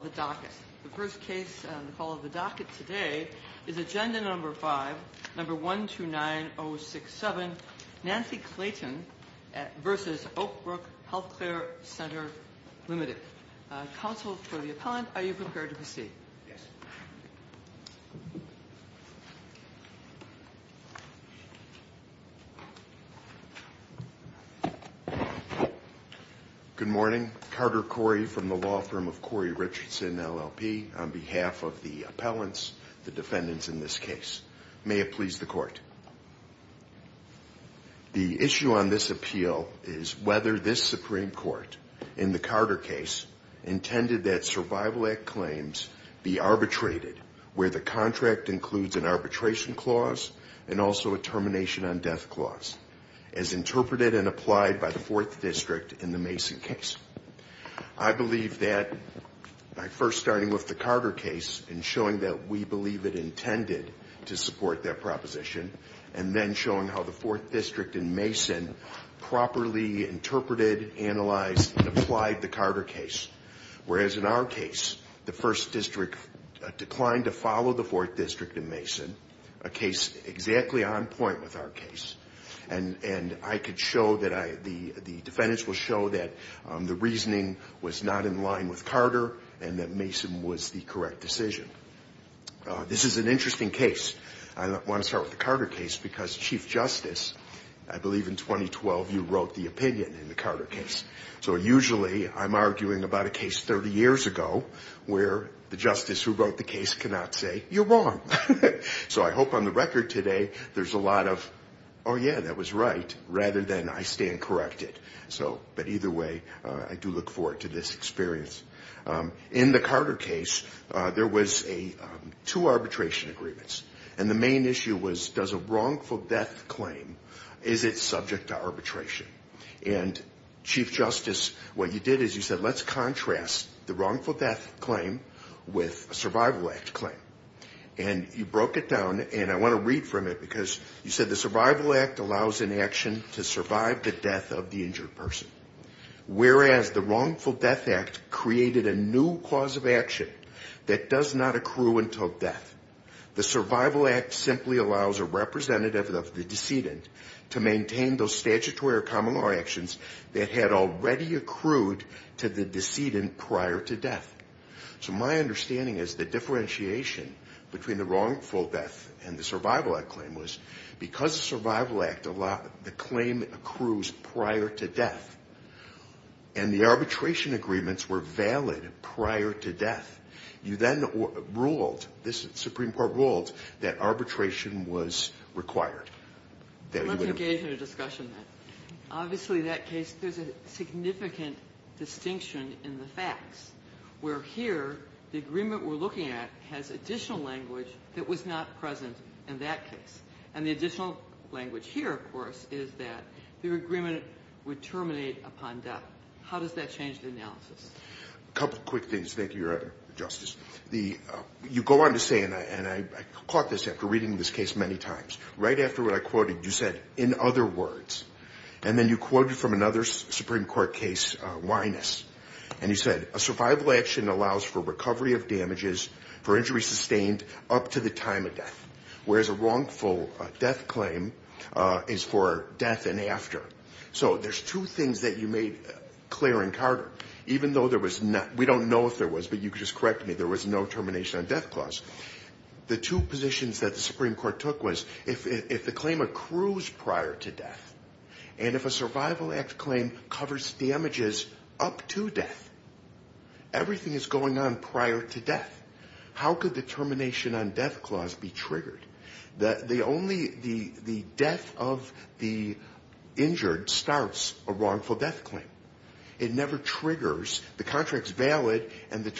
The first case on the call of the docket today is Agenda No. 5, No. 129067, Nancy Clayton v. Oakbrook Healthcare Centre, Ltd. Counsel for the appellant, are you prepared to proceed? Yes. Good morning, Carter Corey from the law firm of Corey Richardson, LLP, on behalf of the appellants, the defendants in this case. May it please the court. The issue on this appeal is whether this Supreme Court, in the Carter case, intended that Survival Act claims be arbitrated, where the contract includes an arbitration clause and also a termination on death clause, as interpreted and applied by the 4th District in the Mason case. I believe that by first starting with the Carter case and showing that we believe it intended to support that proposition, and then showing how the 4th District in Mason properly interpreted, analyzed, and applied the Carter case. Whereas in our case, the 1st District declined to follow the 4th District in Mason, a case exactly on point with our case. And the defendants will show that the reasoning was not in line with Carter and that Mason was the correct decision. This is an interesting case. I want to start with the Carter case because Chief Justice, I believe in 2012, you wrote the opinion in the Carter case. So usually I'm arguing about a case 30 years ago where the justice who wrote the case cannot say, you're wrong. So I hope on the record today there's a lot of, oh yeah, that was right, rather than I stand corrected. But either way, I do look forward to this experience. In the Carter case, there was two arbitration agreements. And the main issue was, does a wrongful death claim, is it subject to arbitration? And Chief Justice, what you did is you said, let's contrast the wrongful death claim with a Survival Act claim. And you broke it down, and I want to read from it because you said, the Survival Act allows an action to survive the death of the injured person. Whereas the Wrongful Death Act created a new clause of action that does not accrue until death. The Survival Act simply allows a representative of the decedent to maintain those statutory or common law actions that had already accrued to the decedent prior to death. So my understanding is the differentiation between the wrongful death and the Survival Act claim was, because the Survival Act, the claim accrues prior to death. And the arbitration agreements were valid prior to death. You then ruled, the Supreme Court ruled, that arbitration was required. Let's engage in a discussion, then. Obviously, that case, there's a significant distinction in the facts, where here, the agreement we're looking at has additional language that was not present in that case. And the additional language here, of course, is that the agreement would terminate upon death. How does that change the analysis? A couple of quick things. Thank you, Your Honor, Justice. You go on to say, and I caught this after reading this case many times, right after what I quoted, you said, in other words. And then you quoted from another Supreme Court case, Wyness. And you said, a survival action allows for recovery of damages for injuries sustained up to the time of death, whereas a wrongful death claim is for death and after. So there's two things that you made clear in Carter. Even though there was not, we don't know if there was, but you can just correct me, there was no termination on death clause. The two positions that the Supreme Court took was, if the claim accrues prior to death, and if a Survival Act claim covers damages up to death, everything is going on prior to death. How could the termination on death clause be triggered? The only, the death of the injured starts a wrongful death claim. It never triggers. The contract's valid, and the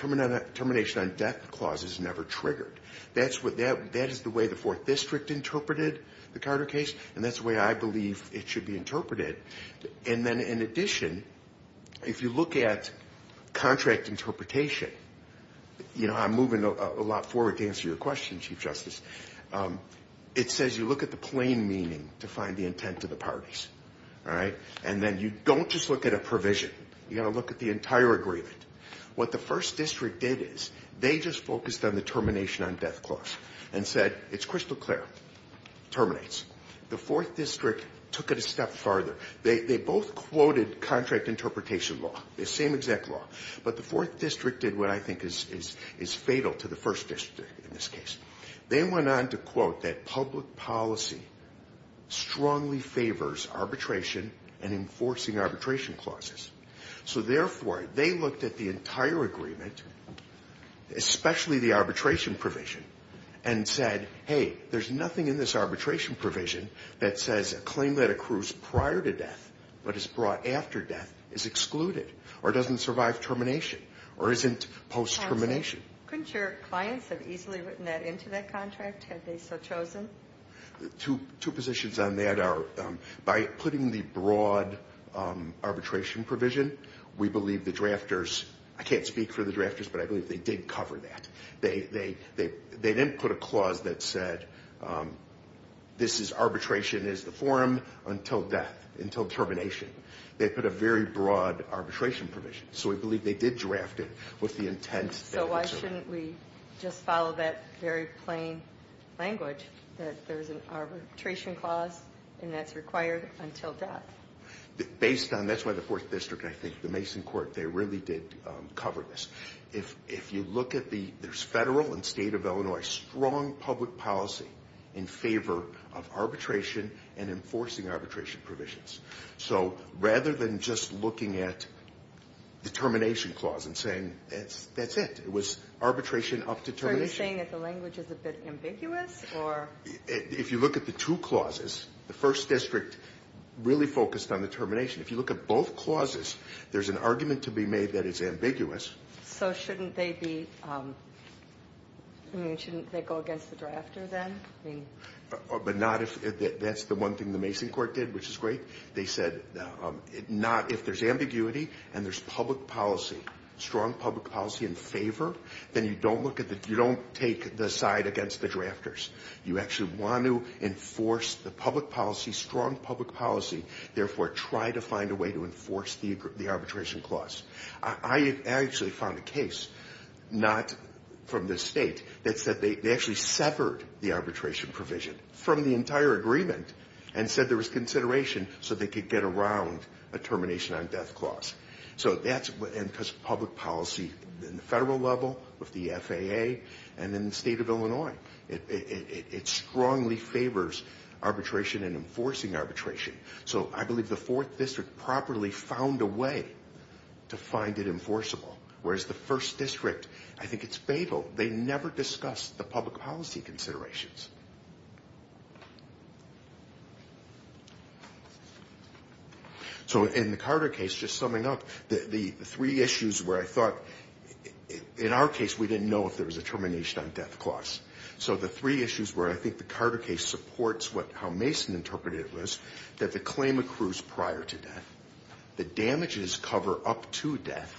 termination on death clause is never triggered. That is the way the Fourth District interpreted the Carter case, and that's the way I believe it should be interpreted. And then, in addition, if you look at contract interpretation, you know, I'm moving a lot forward to answer your question, Chief Justice. It says you look at the plain meaning to find the intent of the parties, all right? And then you don't just look at a provision. You've got to look at the entire agreement. What the First District did is they just focused on the termination on death clause and said, it's crystal clear, terminates. The Fourth District took it a step farther. They both quoted contract interpretation law, the same exact law, but the Fourth District did what I think is fatal to the First District in this case. They went on to quote that public policy strongly favors arbitration and enforcing arbitration clauses. So, therefore, they looked at the entire agreement, especially the arbitration provision, and said, hey, there's nothing in this arbitration provision that says a claim that accrues prior to death but is brought after death is excluded or doesn't survive termination or isn't post-termination. Couldn't your clients have easily written that into that contract had they so chosen? Two positions on that are by putting the broad arbitration provision, we believe the drafters, I can't speak for the drafters, but I believe they did cover that. They didn't put a clause that said this is arbitration is the forum until death, until termination. They put a very broad arbitration provision. So we believe they did draft it with the intent. So why shouldn't we just follow that very plain language that there's an arbitration clause and that's required until death? Based on, that's why the Fourth District, I think, the Mason Court, they really did cover this. If you look at the, there's federal and state of Illinois strong public policy in favor of arbitration and enforcing arbitration provisions. So rather than just looking at the termination clause and saying that's it, it was arbitration up to termination. Are you saying that the language is a bit ambiguous or? If you look at the two clauses, the First District really focused on the termination. If you look at both clauses, there's an argument to be made that it's ambiguous. So shouldn't they be, I mean, shouldn't they go against the drafter then? But not if, that's the one thing the Mason Court did, which is great. They said not, if there's ambiguity and there's public policy, strong public policy in favor, then you don't look at the, you don't take the side against the drafters. You actually want to enforce the public policy, strong public policy. Therefore, try to find a way to enforce the arbitration clause. I actually found a case, not from this state, that said they actually severed the arbitration provision from the entire agreement and said there was consideration so they could get around a termination on death clause. So that's, and because public policy in the federal level, with the FAA, and in the state of Illinois, it strongly favors arbitration and enforcing arbitration. So I believe the fourth district properly found a way to find it enforceable, whereas the first district, I think it's fatal. They never discussed the public policy considerations. So in the Carter case, just summing up, the three issues where I thought, in our case, we didn't know if there was a termination on death clause. So the three issues where I think the Carter case supports what, how Mason interpreted it was, that the claim accrues prior to death. The damages cover up to death.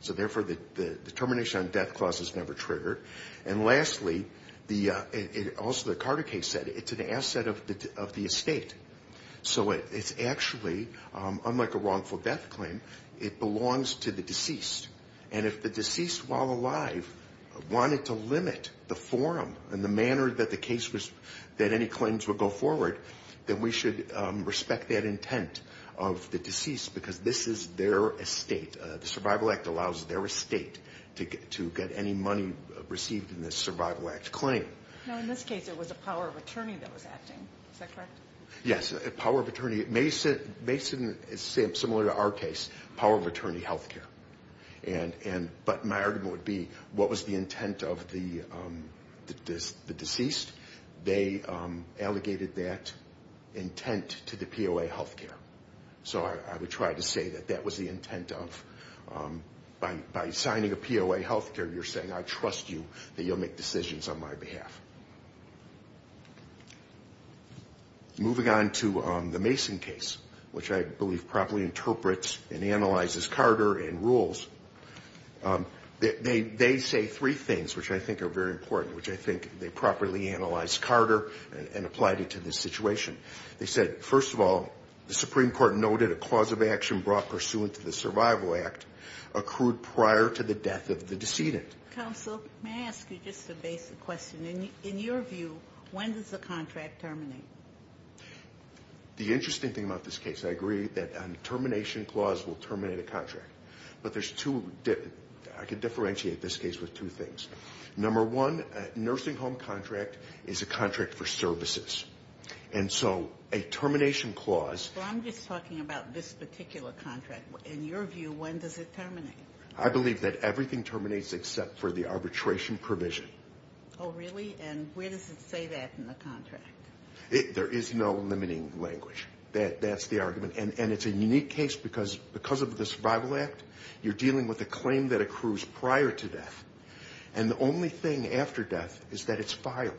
So therefore, the termination on death clause is never triggered. And lastly, also the Carter case said it's an asset of the estate. So it's actually, unlike a wrongful death claim, it belongs to the deceased. And if the deceased, while alive, wanted to limit the forum and the manner that the case was, that any claims would go forward, then we should respect that intent of the deceased because this is their estate. The Survival Act allows their estate to get any money received in this Survival Act claim. Now, in this case, it was a power of attorney that was acting. Is that correct? Yes, a power of attorney. Mason, similar to our case, power of attorney health care. But my argument would be, what was the intent of the deceased? They allegated that intent to the POA health care. So I would try to say that that was the intent of, by signing a POA health care, you're saying, I trust you that you'll make decisions on my behalf. Moving on to the Mason case, which I believe properly interprets and analyzes Carter and rules. They say three things, which I think are very important, which I think they properly analyzed Carter and applied it to this situation. They said, first of all, the Supreme Court noted a clause of action brought pursuant to the Survival Act accrued prior to the death of the decedent. Counsel, may I ask you just a basic question? In your view, when does the contract terminate? The interesting thing about this case, I agree, that a termination clause will terminate a contract. But there's two – I could differentiate this case with two things. Number one, a nursing home contract is a contract for services. And so a termination clause – I'm just talking about this particular contract. In your view, when does it terminate? I believe that everything terminates except for the arbitration provision. Oh, really? And where does it say that in the contract? There is no limiting language. That's the argument. And it's a unique case because of the Survival Act, you're dealing with a claim that accrues prior to death. And the only thing after death is that it's filed.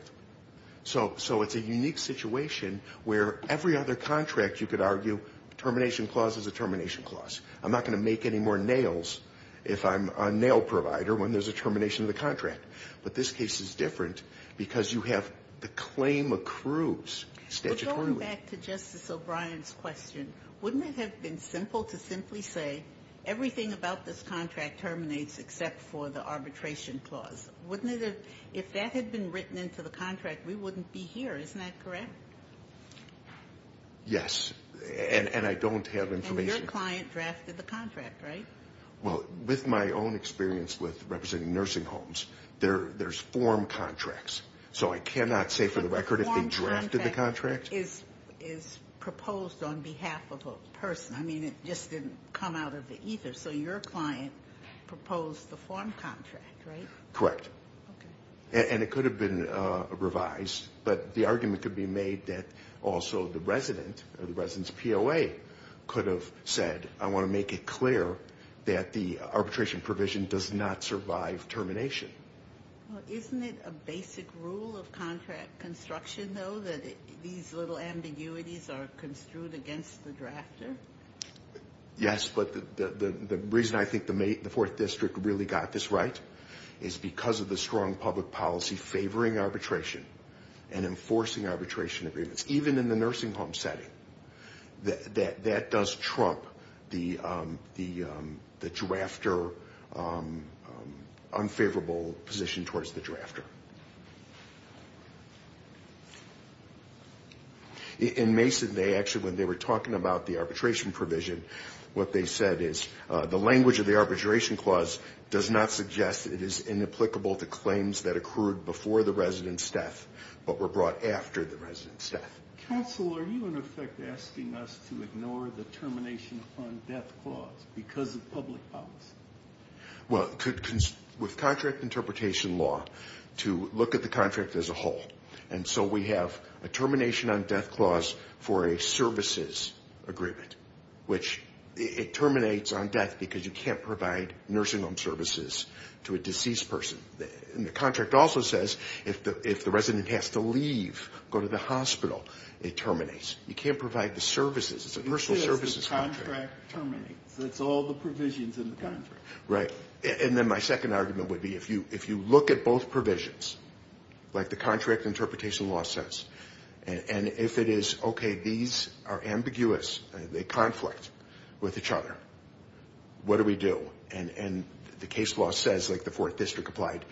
So it's a unique situation where every other contract, you could argue, termination clause is a termination clause. I'm not going to make any more nails if I'm a nail provider when there's a termination of the contract. But this case is different because you have the claim accrues statutorily. But going back to Justice O'Brien's question, wouldn't it have been simple to simply say everything about this contract terminates except for the arbitration clause? Wouldn't it have – if that had been written into the contract, we wouldn't be here. Isn't that correct? Yes. And I don't have information. Your client drafted the contract, right? Well, with my own experience with representing nursing homes, there's form contracts. So I cannot say for the record if they drafted the contract. But the form contract is proposed on behalf of a person. I mean, it just didn't come out of the ether. So your client proposed the form contract, right? Correct. Okay. And it could have been revised. But the argument could be made that also the resident or the resident's POA could have said, I want to make it clear that the arbitration provision does not survive termination. Well, isn't it a basic rule of contract construction, though, that these little ambiguities are construed against the drafter? Yes, but the reason I think the Fourth District really got this right is because of the strong public policy favoring arbitration and enforcing arbitration agreements. Even in the nursing home setting, that does trump the drafter unfavorable position towards the drafter. In Mason, they actually, when they were talking about the arbitration provision, what they said is the language of the arbitration clause does not suggest it is inapplicable to claims that accrued before the resident's death but were brought after the resident's death. Counsel, are you, in effect, asking us to ignore the termination on death clause because of public policy? Well, with contract interpretation law, to look at the contract as a whole. And so we have a termination on death clause for a services agreement, which it terminates on death because you can't provide nursing home services to a deceased person. And the contract also says if the resident has to leave, go to the hospital, it terminates. You can't provide the services. It's a personal services contract. Yes, the contract terminates. That's all the provisions in the contract. Right. And then my second argument would be if you look at both provisions, like the contract interpretation law says, and if it is okay, these are ambiguous, they conflict with each other, what do we do? And the case law says, like the Fourth District applied,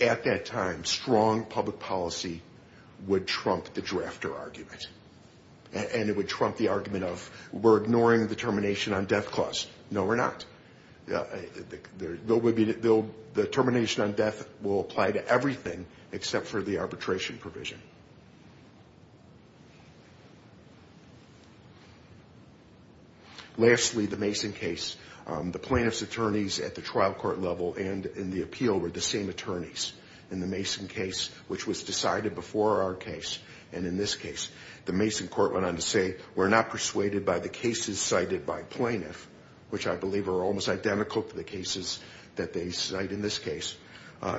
at that time strong public policy would trump the drafter argument. And it would trump the argument of we're ignoring the termination on death clause. No, we're not. The termination on death will apply to everything except for the arbitration provision. Lastly, the Mason case. The plaintiff's attorneys at the trial court level and in the appeal were the same attorneys. In the Mason case, which was decided before our case, and in this case, the Mason court went on to say we're not persuaded by the cases cited by plaintiff, which I believe are almost identical to the cases that they cite in this case.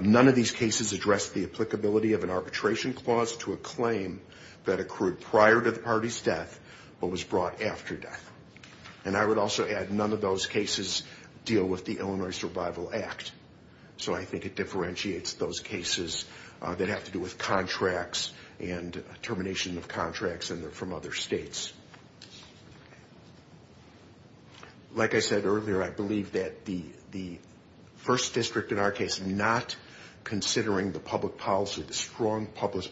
None of these cases address the applicability of an arbitration clause to a claim that accrued prior to the party's death but was brought after death. And I would also add none of those cases deal with the Illinois Survival Act. So I think it differentiates those cases that have to do with contracts and termination of contracts from other states. Like I said earlier, I believe that the first district in our case, not considering the public policy, the strong public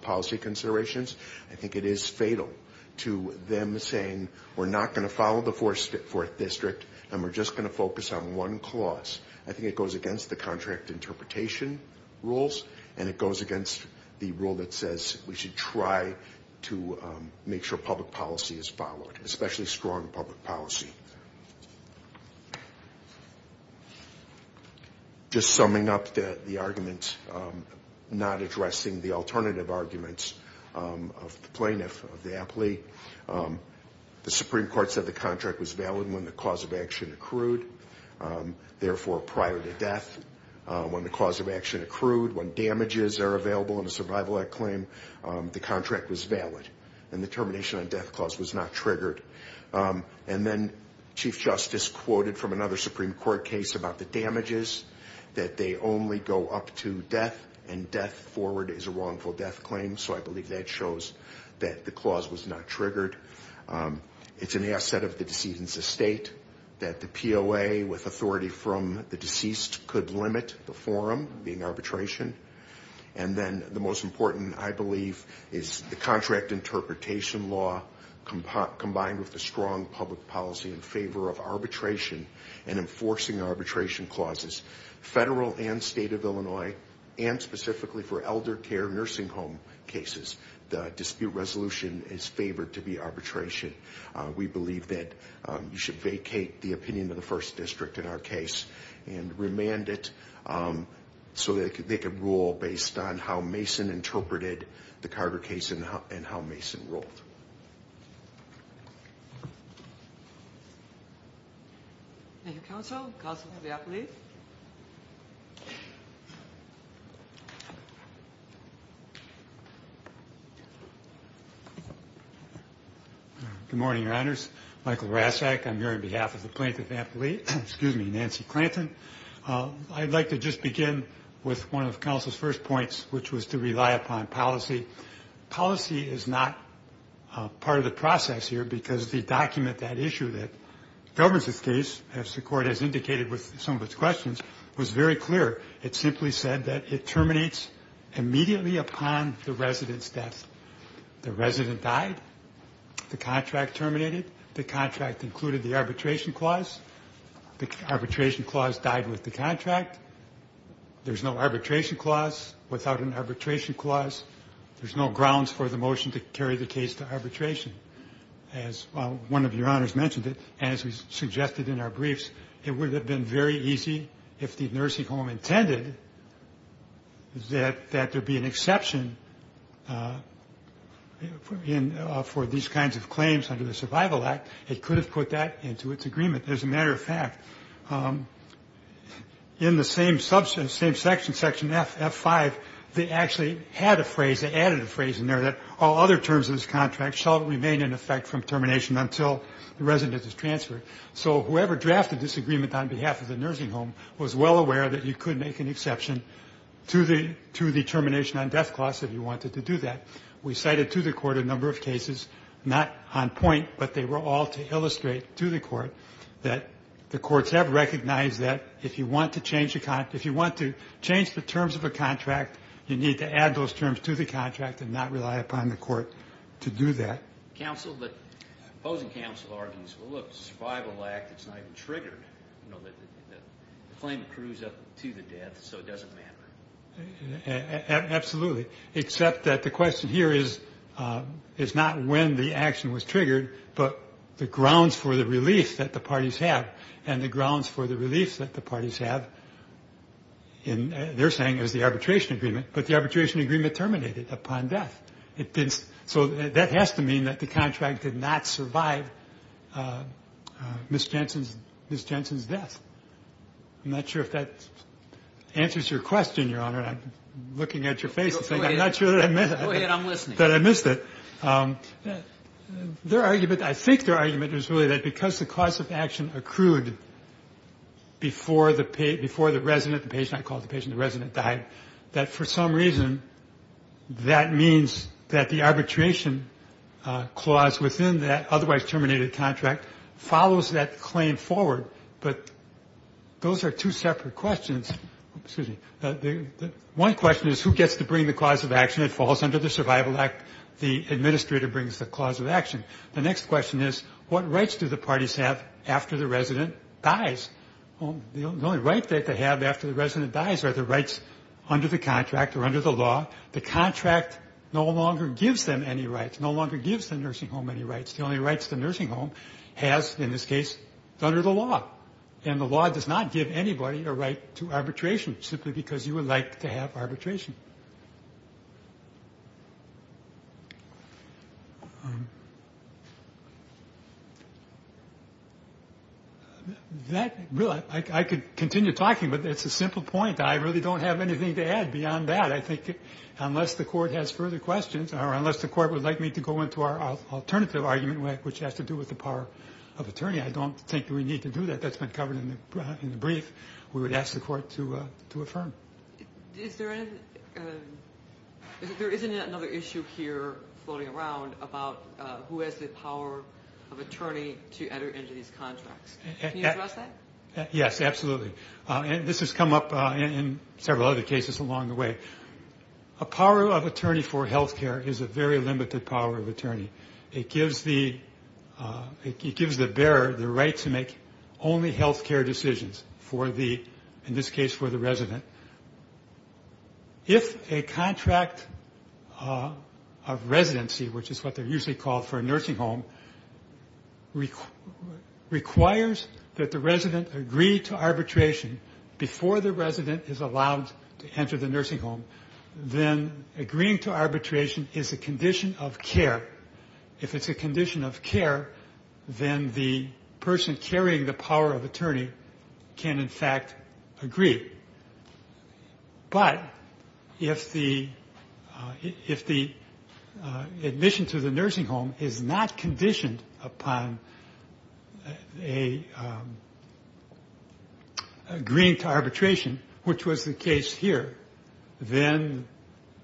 policy considerations, I think it is fatal to them saying we're not going to follow the fourth district and we're just going to focus on one clause. I think it goes against the contract interpretation rules, and it goes against the rule that says we should try to make sure public policy is followed, especially strong public policy. Just summing up the arguments, not addressing the alternative arguments of the plaintiff, of the applique, the Supreme Court said the contract was valid when the cause of action accrued. Therefore, prior to death, when the cause of action accrued, when damages are available in a Survival Act claim, the contract was valid. And the termination on death clause was not triggered. And then Chief Justice quoted from another Supreme Court case about the damages, that they only go up to death and death forward is a wrongful death claim. So I believe that shows that the clause was not triggered. It's an asset of the deceased's estate that the POA, with authority from the deceased, could limit the forum, being arbitration. And then the most important, I believe, is the contract interpretation law, combined with the strong public policy in favor of arbitration, and enforcing arbitration clauses, federal and state of Illinois, and specifically for elder care nursing home cases. The dispute resolution is favored to be arbitration. We believe that you should vacate the opinion of the First District in our case and remand it so that they can rule based on how Mason interpreted the Carter case and how Mason ruled. Thank you, counsel. Good morning, Your Honors. Michael Rasak, I'm here on behalf of the plaintiff, Nancy Clanton. I'd like to just begin with one of counsel's first points, which was to rely upon policy. Policy is not part of the process here because the document, that issue that governs this case, as the court has indicated with some of its questions, was very clear. It simply said that it terminates immediately upon the resident's death. The resident died. The contract terminated. The contract included the arbitration clause. The arbitration clause died with the contract. There's no grounds for the motion to carry the case to arbitration. As one of Your Honors mentioned, as was suggested in our briefs, it would have been very easy if the nursing home intended that there be an exception for these kinds of claims under the Survival Act. It could have put that into its agreement. As a matter of fact, in the same section, Section F, F5, they actually had a phrase, they added a phrase in there that all other terms of this contract shall remain in effect from termination until the resident is transferred. So whoever drafted this agreement on behalf of the nursing home was well aware that you could make an exception to the termination on death clause if you wanted to do that. We cited to the court a number of cases, not on point, but they were all to illustrate to the court that the courts have recognized that if you want to change the terms of a contract, you need to add those terms to the contract and not rely upon the court to do that. Counsel, the opposing counsel argues, well, look, the Survival Act, it's not even triggered. You know, the claim accrues up to the death, so it doesn't matter. Absolutely, except that the question here is not when the action was triggered, but the grounds for the relief that the parties have and the grounds for the relief that the parties have in their saying is the arbitration agreement, but the arbitration agreement terminated upon death. So that has to mean that the contract did not survive Ms. Jensen's death. I'm not sure if that answers your question, Your Honor. I'm looking at your face and saying I'm not sure that I missed it. Go ahead. I'm listening. I'm not sure that I missed it. Their argument, I think their argument is really that because the cause of action accrued before the resident, the patient I called the patient, the resident died, that for some reason that means that the arbitration clause within that otherwise terminated contract follows that claim forward. But those are two separate questions. One question is who gets to bring the clause of action? It falls under the Survival Act. The administrator brings the clause of action. The next question is what rights do the parties have after the resident dies? The only right that they have after the resident dies are the rights under the contract or under the law. The contract no longer gives them any rights, no longer gives the nursing home any rights. The only rights the nursing home has in this case is under the law, and the law does not give anybody a right to arbitration simply because you would like to have arbitration. I could continue talking, but it's a simple point. I really don't have anything to add beyond that. I think unless the Court has further questions or unless the Court would like me to go into our alternative argument, which has to do with the power of attorney, I don't think we need to do that. That's been covered in the brief. We would ask the Court to affirm. Is there any other issue here floating around about who has the power of attorney to enter into these contracts? Can you address that? Yes, absolutely. This has come up in several other cases along the way. A power of attorney for health care is a very limited power of attorney. It gives the bearer the right to make only health care decisions, in this case for the resident. If a contract of residency, which is what they're usually called for a nursing home, requires that the resident agree to arbitration before the resident is allowed to enter the nursing home, then agreeing to arbitration is a condition of care. If it's a condition of care, then the person carrying the power of attorney can, in fact, agree. But if the admission to the nursing home is not conditioned upon agreeing to arbitration, which was the case here, then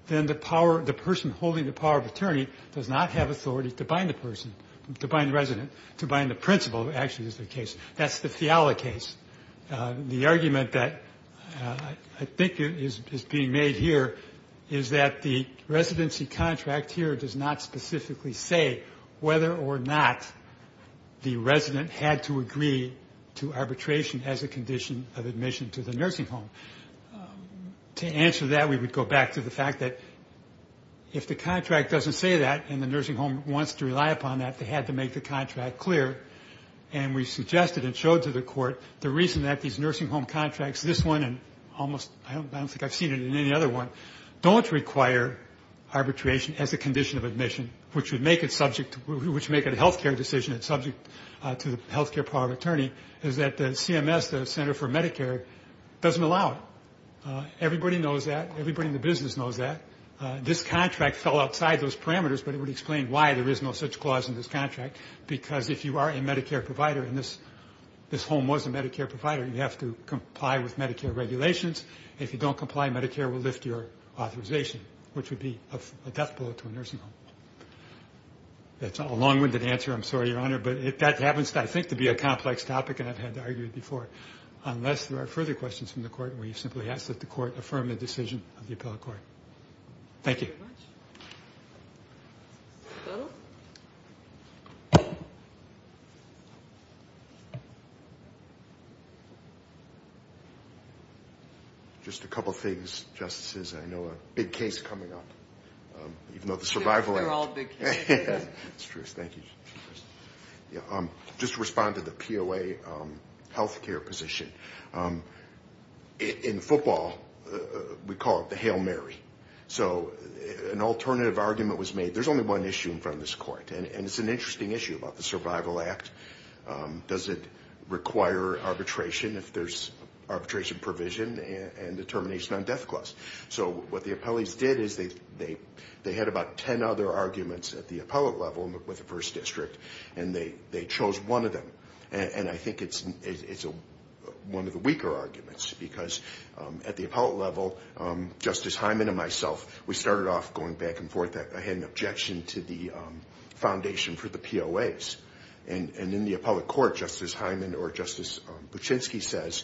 the person holding the power of attorney does not have authority to bind the person, to bind the resident, to bind the principal, actually is the case. That's the Fiala case. The argument that I think is being made here is that the residency contract here does not specifically say whether or not the resident had to agree to arbitration as a condition of admission to the nursing home. To answer that, we would go back to the fact that if the contract doesn't say that and the nursing home wants to rely upon that, they had to make the contract clear. And we suggested and showed to the court the reason that these nursing home contracts, this one and almost I don't think I've seen it in any other one, don't require arbitration as a condition of admission, which would make it a health care decision that's subject to the health care power of attorney, is that CMS, the Center for Medicare, doesn't allow it. Everybody knows that. Everybody in the business knows that. This contract fell outside those parameters, but it would explain why there is no such clause in this contract, because if you are a Medicare provider and this home was a Medicare provider, you have to comply with Medicare regulations. If you don't comply, Medicare will lift your authorization, which would be a death blow to a nursing home. That's a long-winded answer. I'm sorry, Your Honor, but that happens, I think, to be a complex topic, and I've had to argue it before. Unless there are further questions from the court, we simply ask that the court affirm the decision of the appellate court. Thank you. Thank you very much. Just a couple of things, Justices. I know a big case coming up, even though the survival act. They're all big cases. It's true. Thank you. Just to respond to the POA health care position, in football we call it the Hail Mary. So an alternative argument was made. There's only one issue in front of this court, and it's an interesting issue about the survival act. Does it require arbitration if there's arbitration provision and determination on death clause? So what the appellees did is they had about ten other arguments at the appellate level with the first district, and they chose one of them, and I think it's one of the weaker arguments, because at the appellate level, Justice Hyman and myself, we started off going back and forth. I had an objection to the foundation for the POAs, and in the appellate court, Justice Hyman or Justice Buchinsky says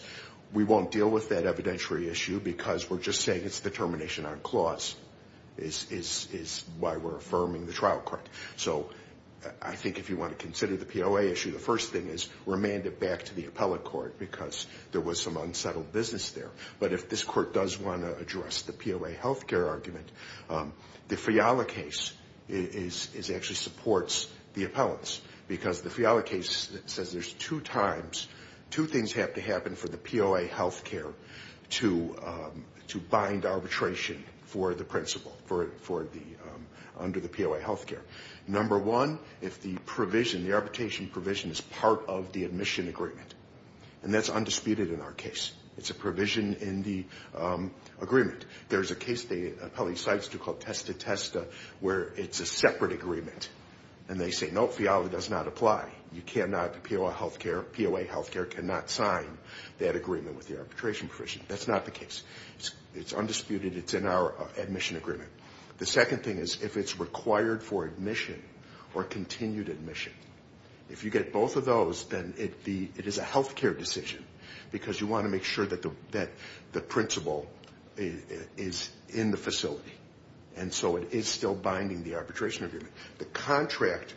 we won't deal with that evidentiary issue because we're just saying it's determination on clause is why we're affirming the trial court. So I think if you want to consider the POA issue, the first thing is remand it back to the appellate court because there was some unsettled business there. But if this court does want to address the POA health care argument, the Fiala case actually supports the appellants because the Fiala case says there's two times, two things have to happen for the POA health care to bind arbitration for the principal under the POA health care. Number one, if the provision, the arbitration provision is part of the admission agreement, and that's undisputed in our case. It's a provision in the agreement. There's a case the appellate decides to call testa testa where it's a separate agreement, and they say, no, Fiala does not apply. You cannot, the POA health care cannot sign that agreement with the arbitration provision. That's not the case. It's undisputed. It's in our admission agreement. The second thing is if it's required for admission or continued admission. If you get both of those, then it is a health care decision because you want to make sure that the principal is in the facility. And so it is still binding the arbitration agreement. The contract,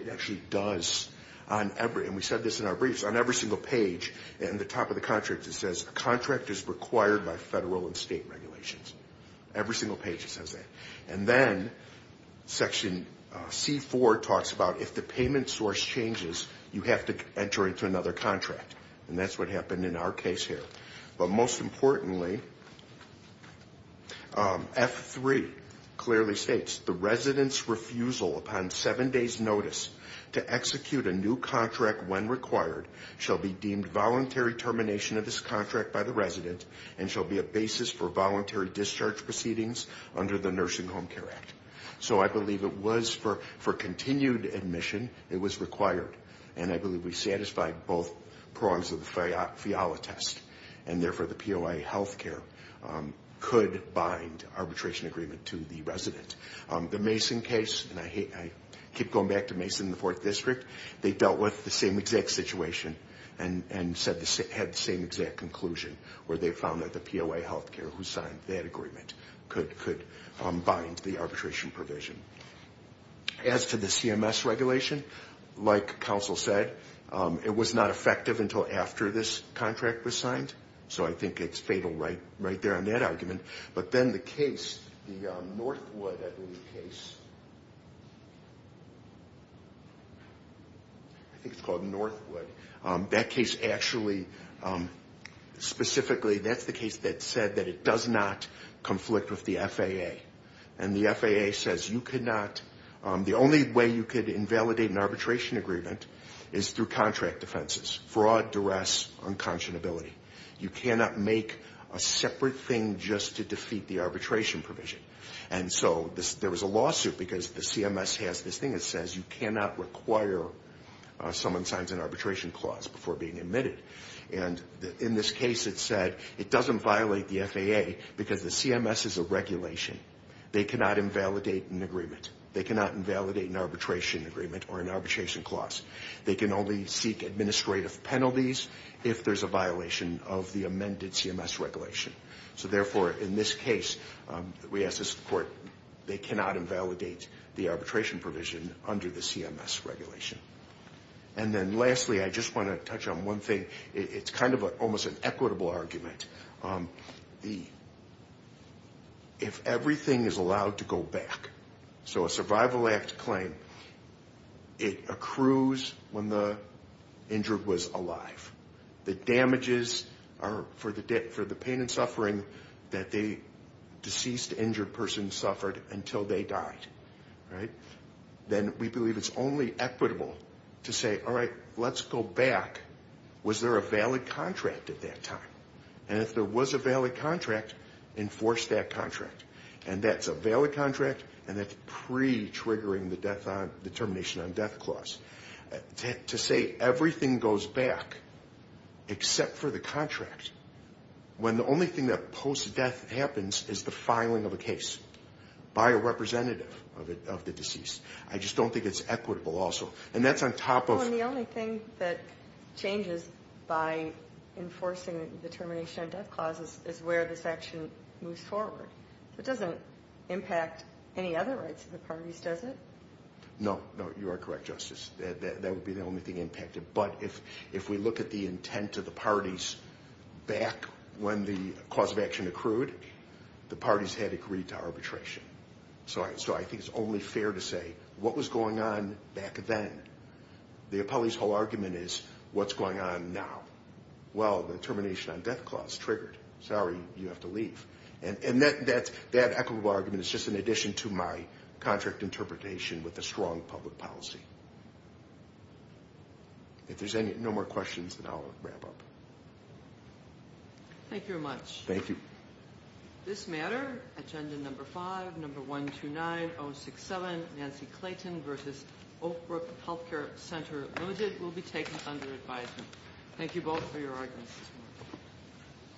it actually does, and we said this in our briefs, on every single page, in the top of the contract it says a contract is required by federal and state regulations. Every single page says that. And then section C4 talks about if the payment source changes, you have to enter into another contract, and that's what happened in our case here. But most importantly, F3 clearly states, the resident's refusal upon seven days' notice to execute a new contract when required shall be deemed voluntary termination of this contract by the resident and shall be a basis for voluntary discharge proceedings under the Nursing Home Care Act. So I believe it was for continued admission it was required, and I believe we satisfied both prongs of the FIALA test, and therefore the POA health care could bind arbitration agreement to the resident. The Mason case, and I keep going back to Mason and the Fourth District, they dealt with the same exact situation and had the same exact conclusion, where they found that the POA health care who signed that agreement could bind the arbitration provision. As to the CMS regulation, like counsel said, it was not effective until after this contract was signed, so I think it's fatal right there on that argument. But then the case, the Northwood case, I think it's called Northwood, that case actually specifically, that's the case that said that it does not conflict with the FAA. And the FAA says you cannot, the only way you could invalidate an arbitration agreement is through contract defenses, fraud, duress, unconscionability. You cannot make a separate thing just to defeat the arbitration provision. And so there was a lawsuit because the CMS has this thing that says you cannot require someone signs an arbitration clause before being admitted. And in this case it said it doesn't violate the FAA because the CMS is a regulation. They cannot invalidate an agreement. They cannot invalidate an arbitration agreement or an arbitration clause. They can only seek administrative penalties if there's a violation of the amended CMS regulation. So therefore, in this case, we asked the court, they cannot invalidate the arbitration provision under the CMS regulation. And then lastly, I just want to touch on one thing. It's kind of almost an equitable argument. If everything is allowed to go back, so a survival act claim, it accrues when the injured was alive. The damages are for the pain and suffering that the deceased injured person suffered until they died. Then we believe it's only equitable to say, all right, let's go back. Was there a valid contract at that time? And if there was a valid contract, enforce that contract. And that's a valid contract, and that's pre-triggering the termination on death clause. To say everything goes back, except for the contract, when the only thing that post-death happens is the filing of a case by a representative of the deceased, I just don't think it's equitable also. And that's on top of ‑‑ Well, and the only thing that changes by enforcing the termination on death clause is where this action moves forward. It doesn't impact any other rights of the parties, does it? No, no, you are correct, Justice. That would be the only thing impacted. But if we look at the intent of the parties back when the cause of action accrued, the parties had agreed to arbitration. So I think it's only fair to say, what was going on back then? The appellee's whole argument is, what's going on now? Well, the termination on death clause triggered. Sorry, you have to leave. And that equitable argument is just in addition to my contract interpretation with a strong public policy. If there's no more questions, then I'll wrap up. Thank you very much. Thank you. This matter, Agenda No. 5, No. 129067, Nancy Clayton v. Oak Brook Health Care Center Limited, will be taken under advisement. Thank you both for your arguments.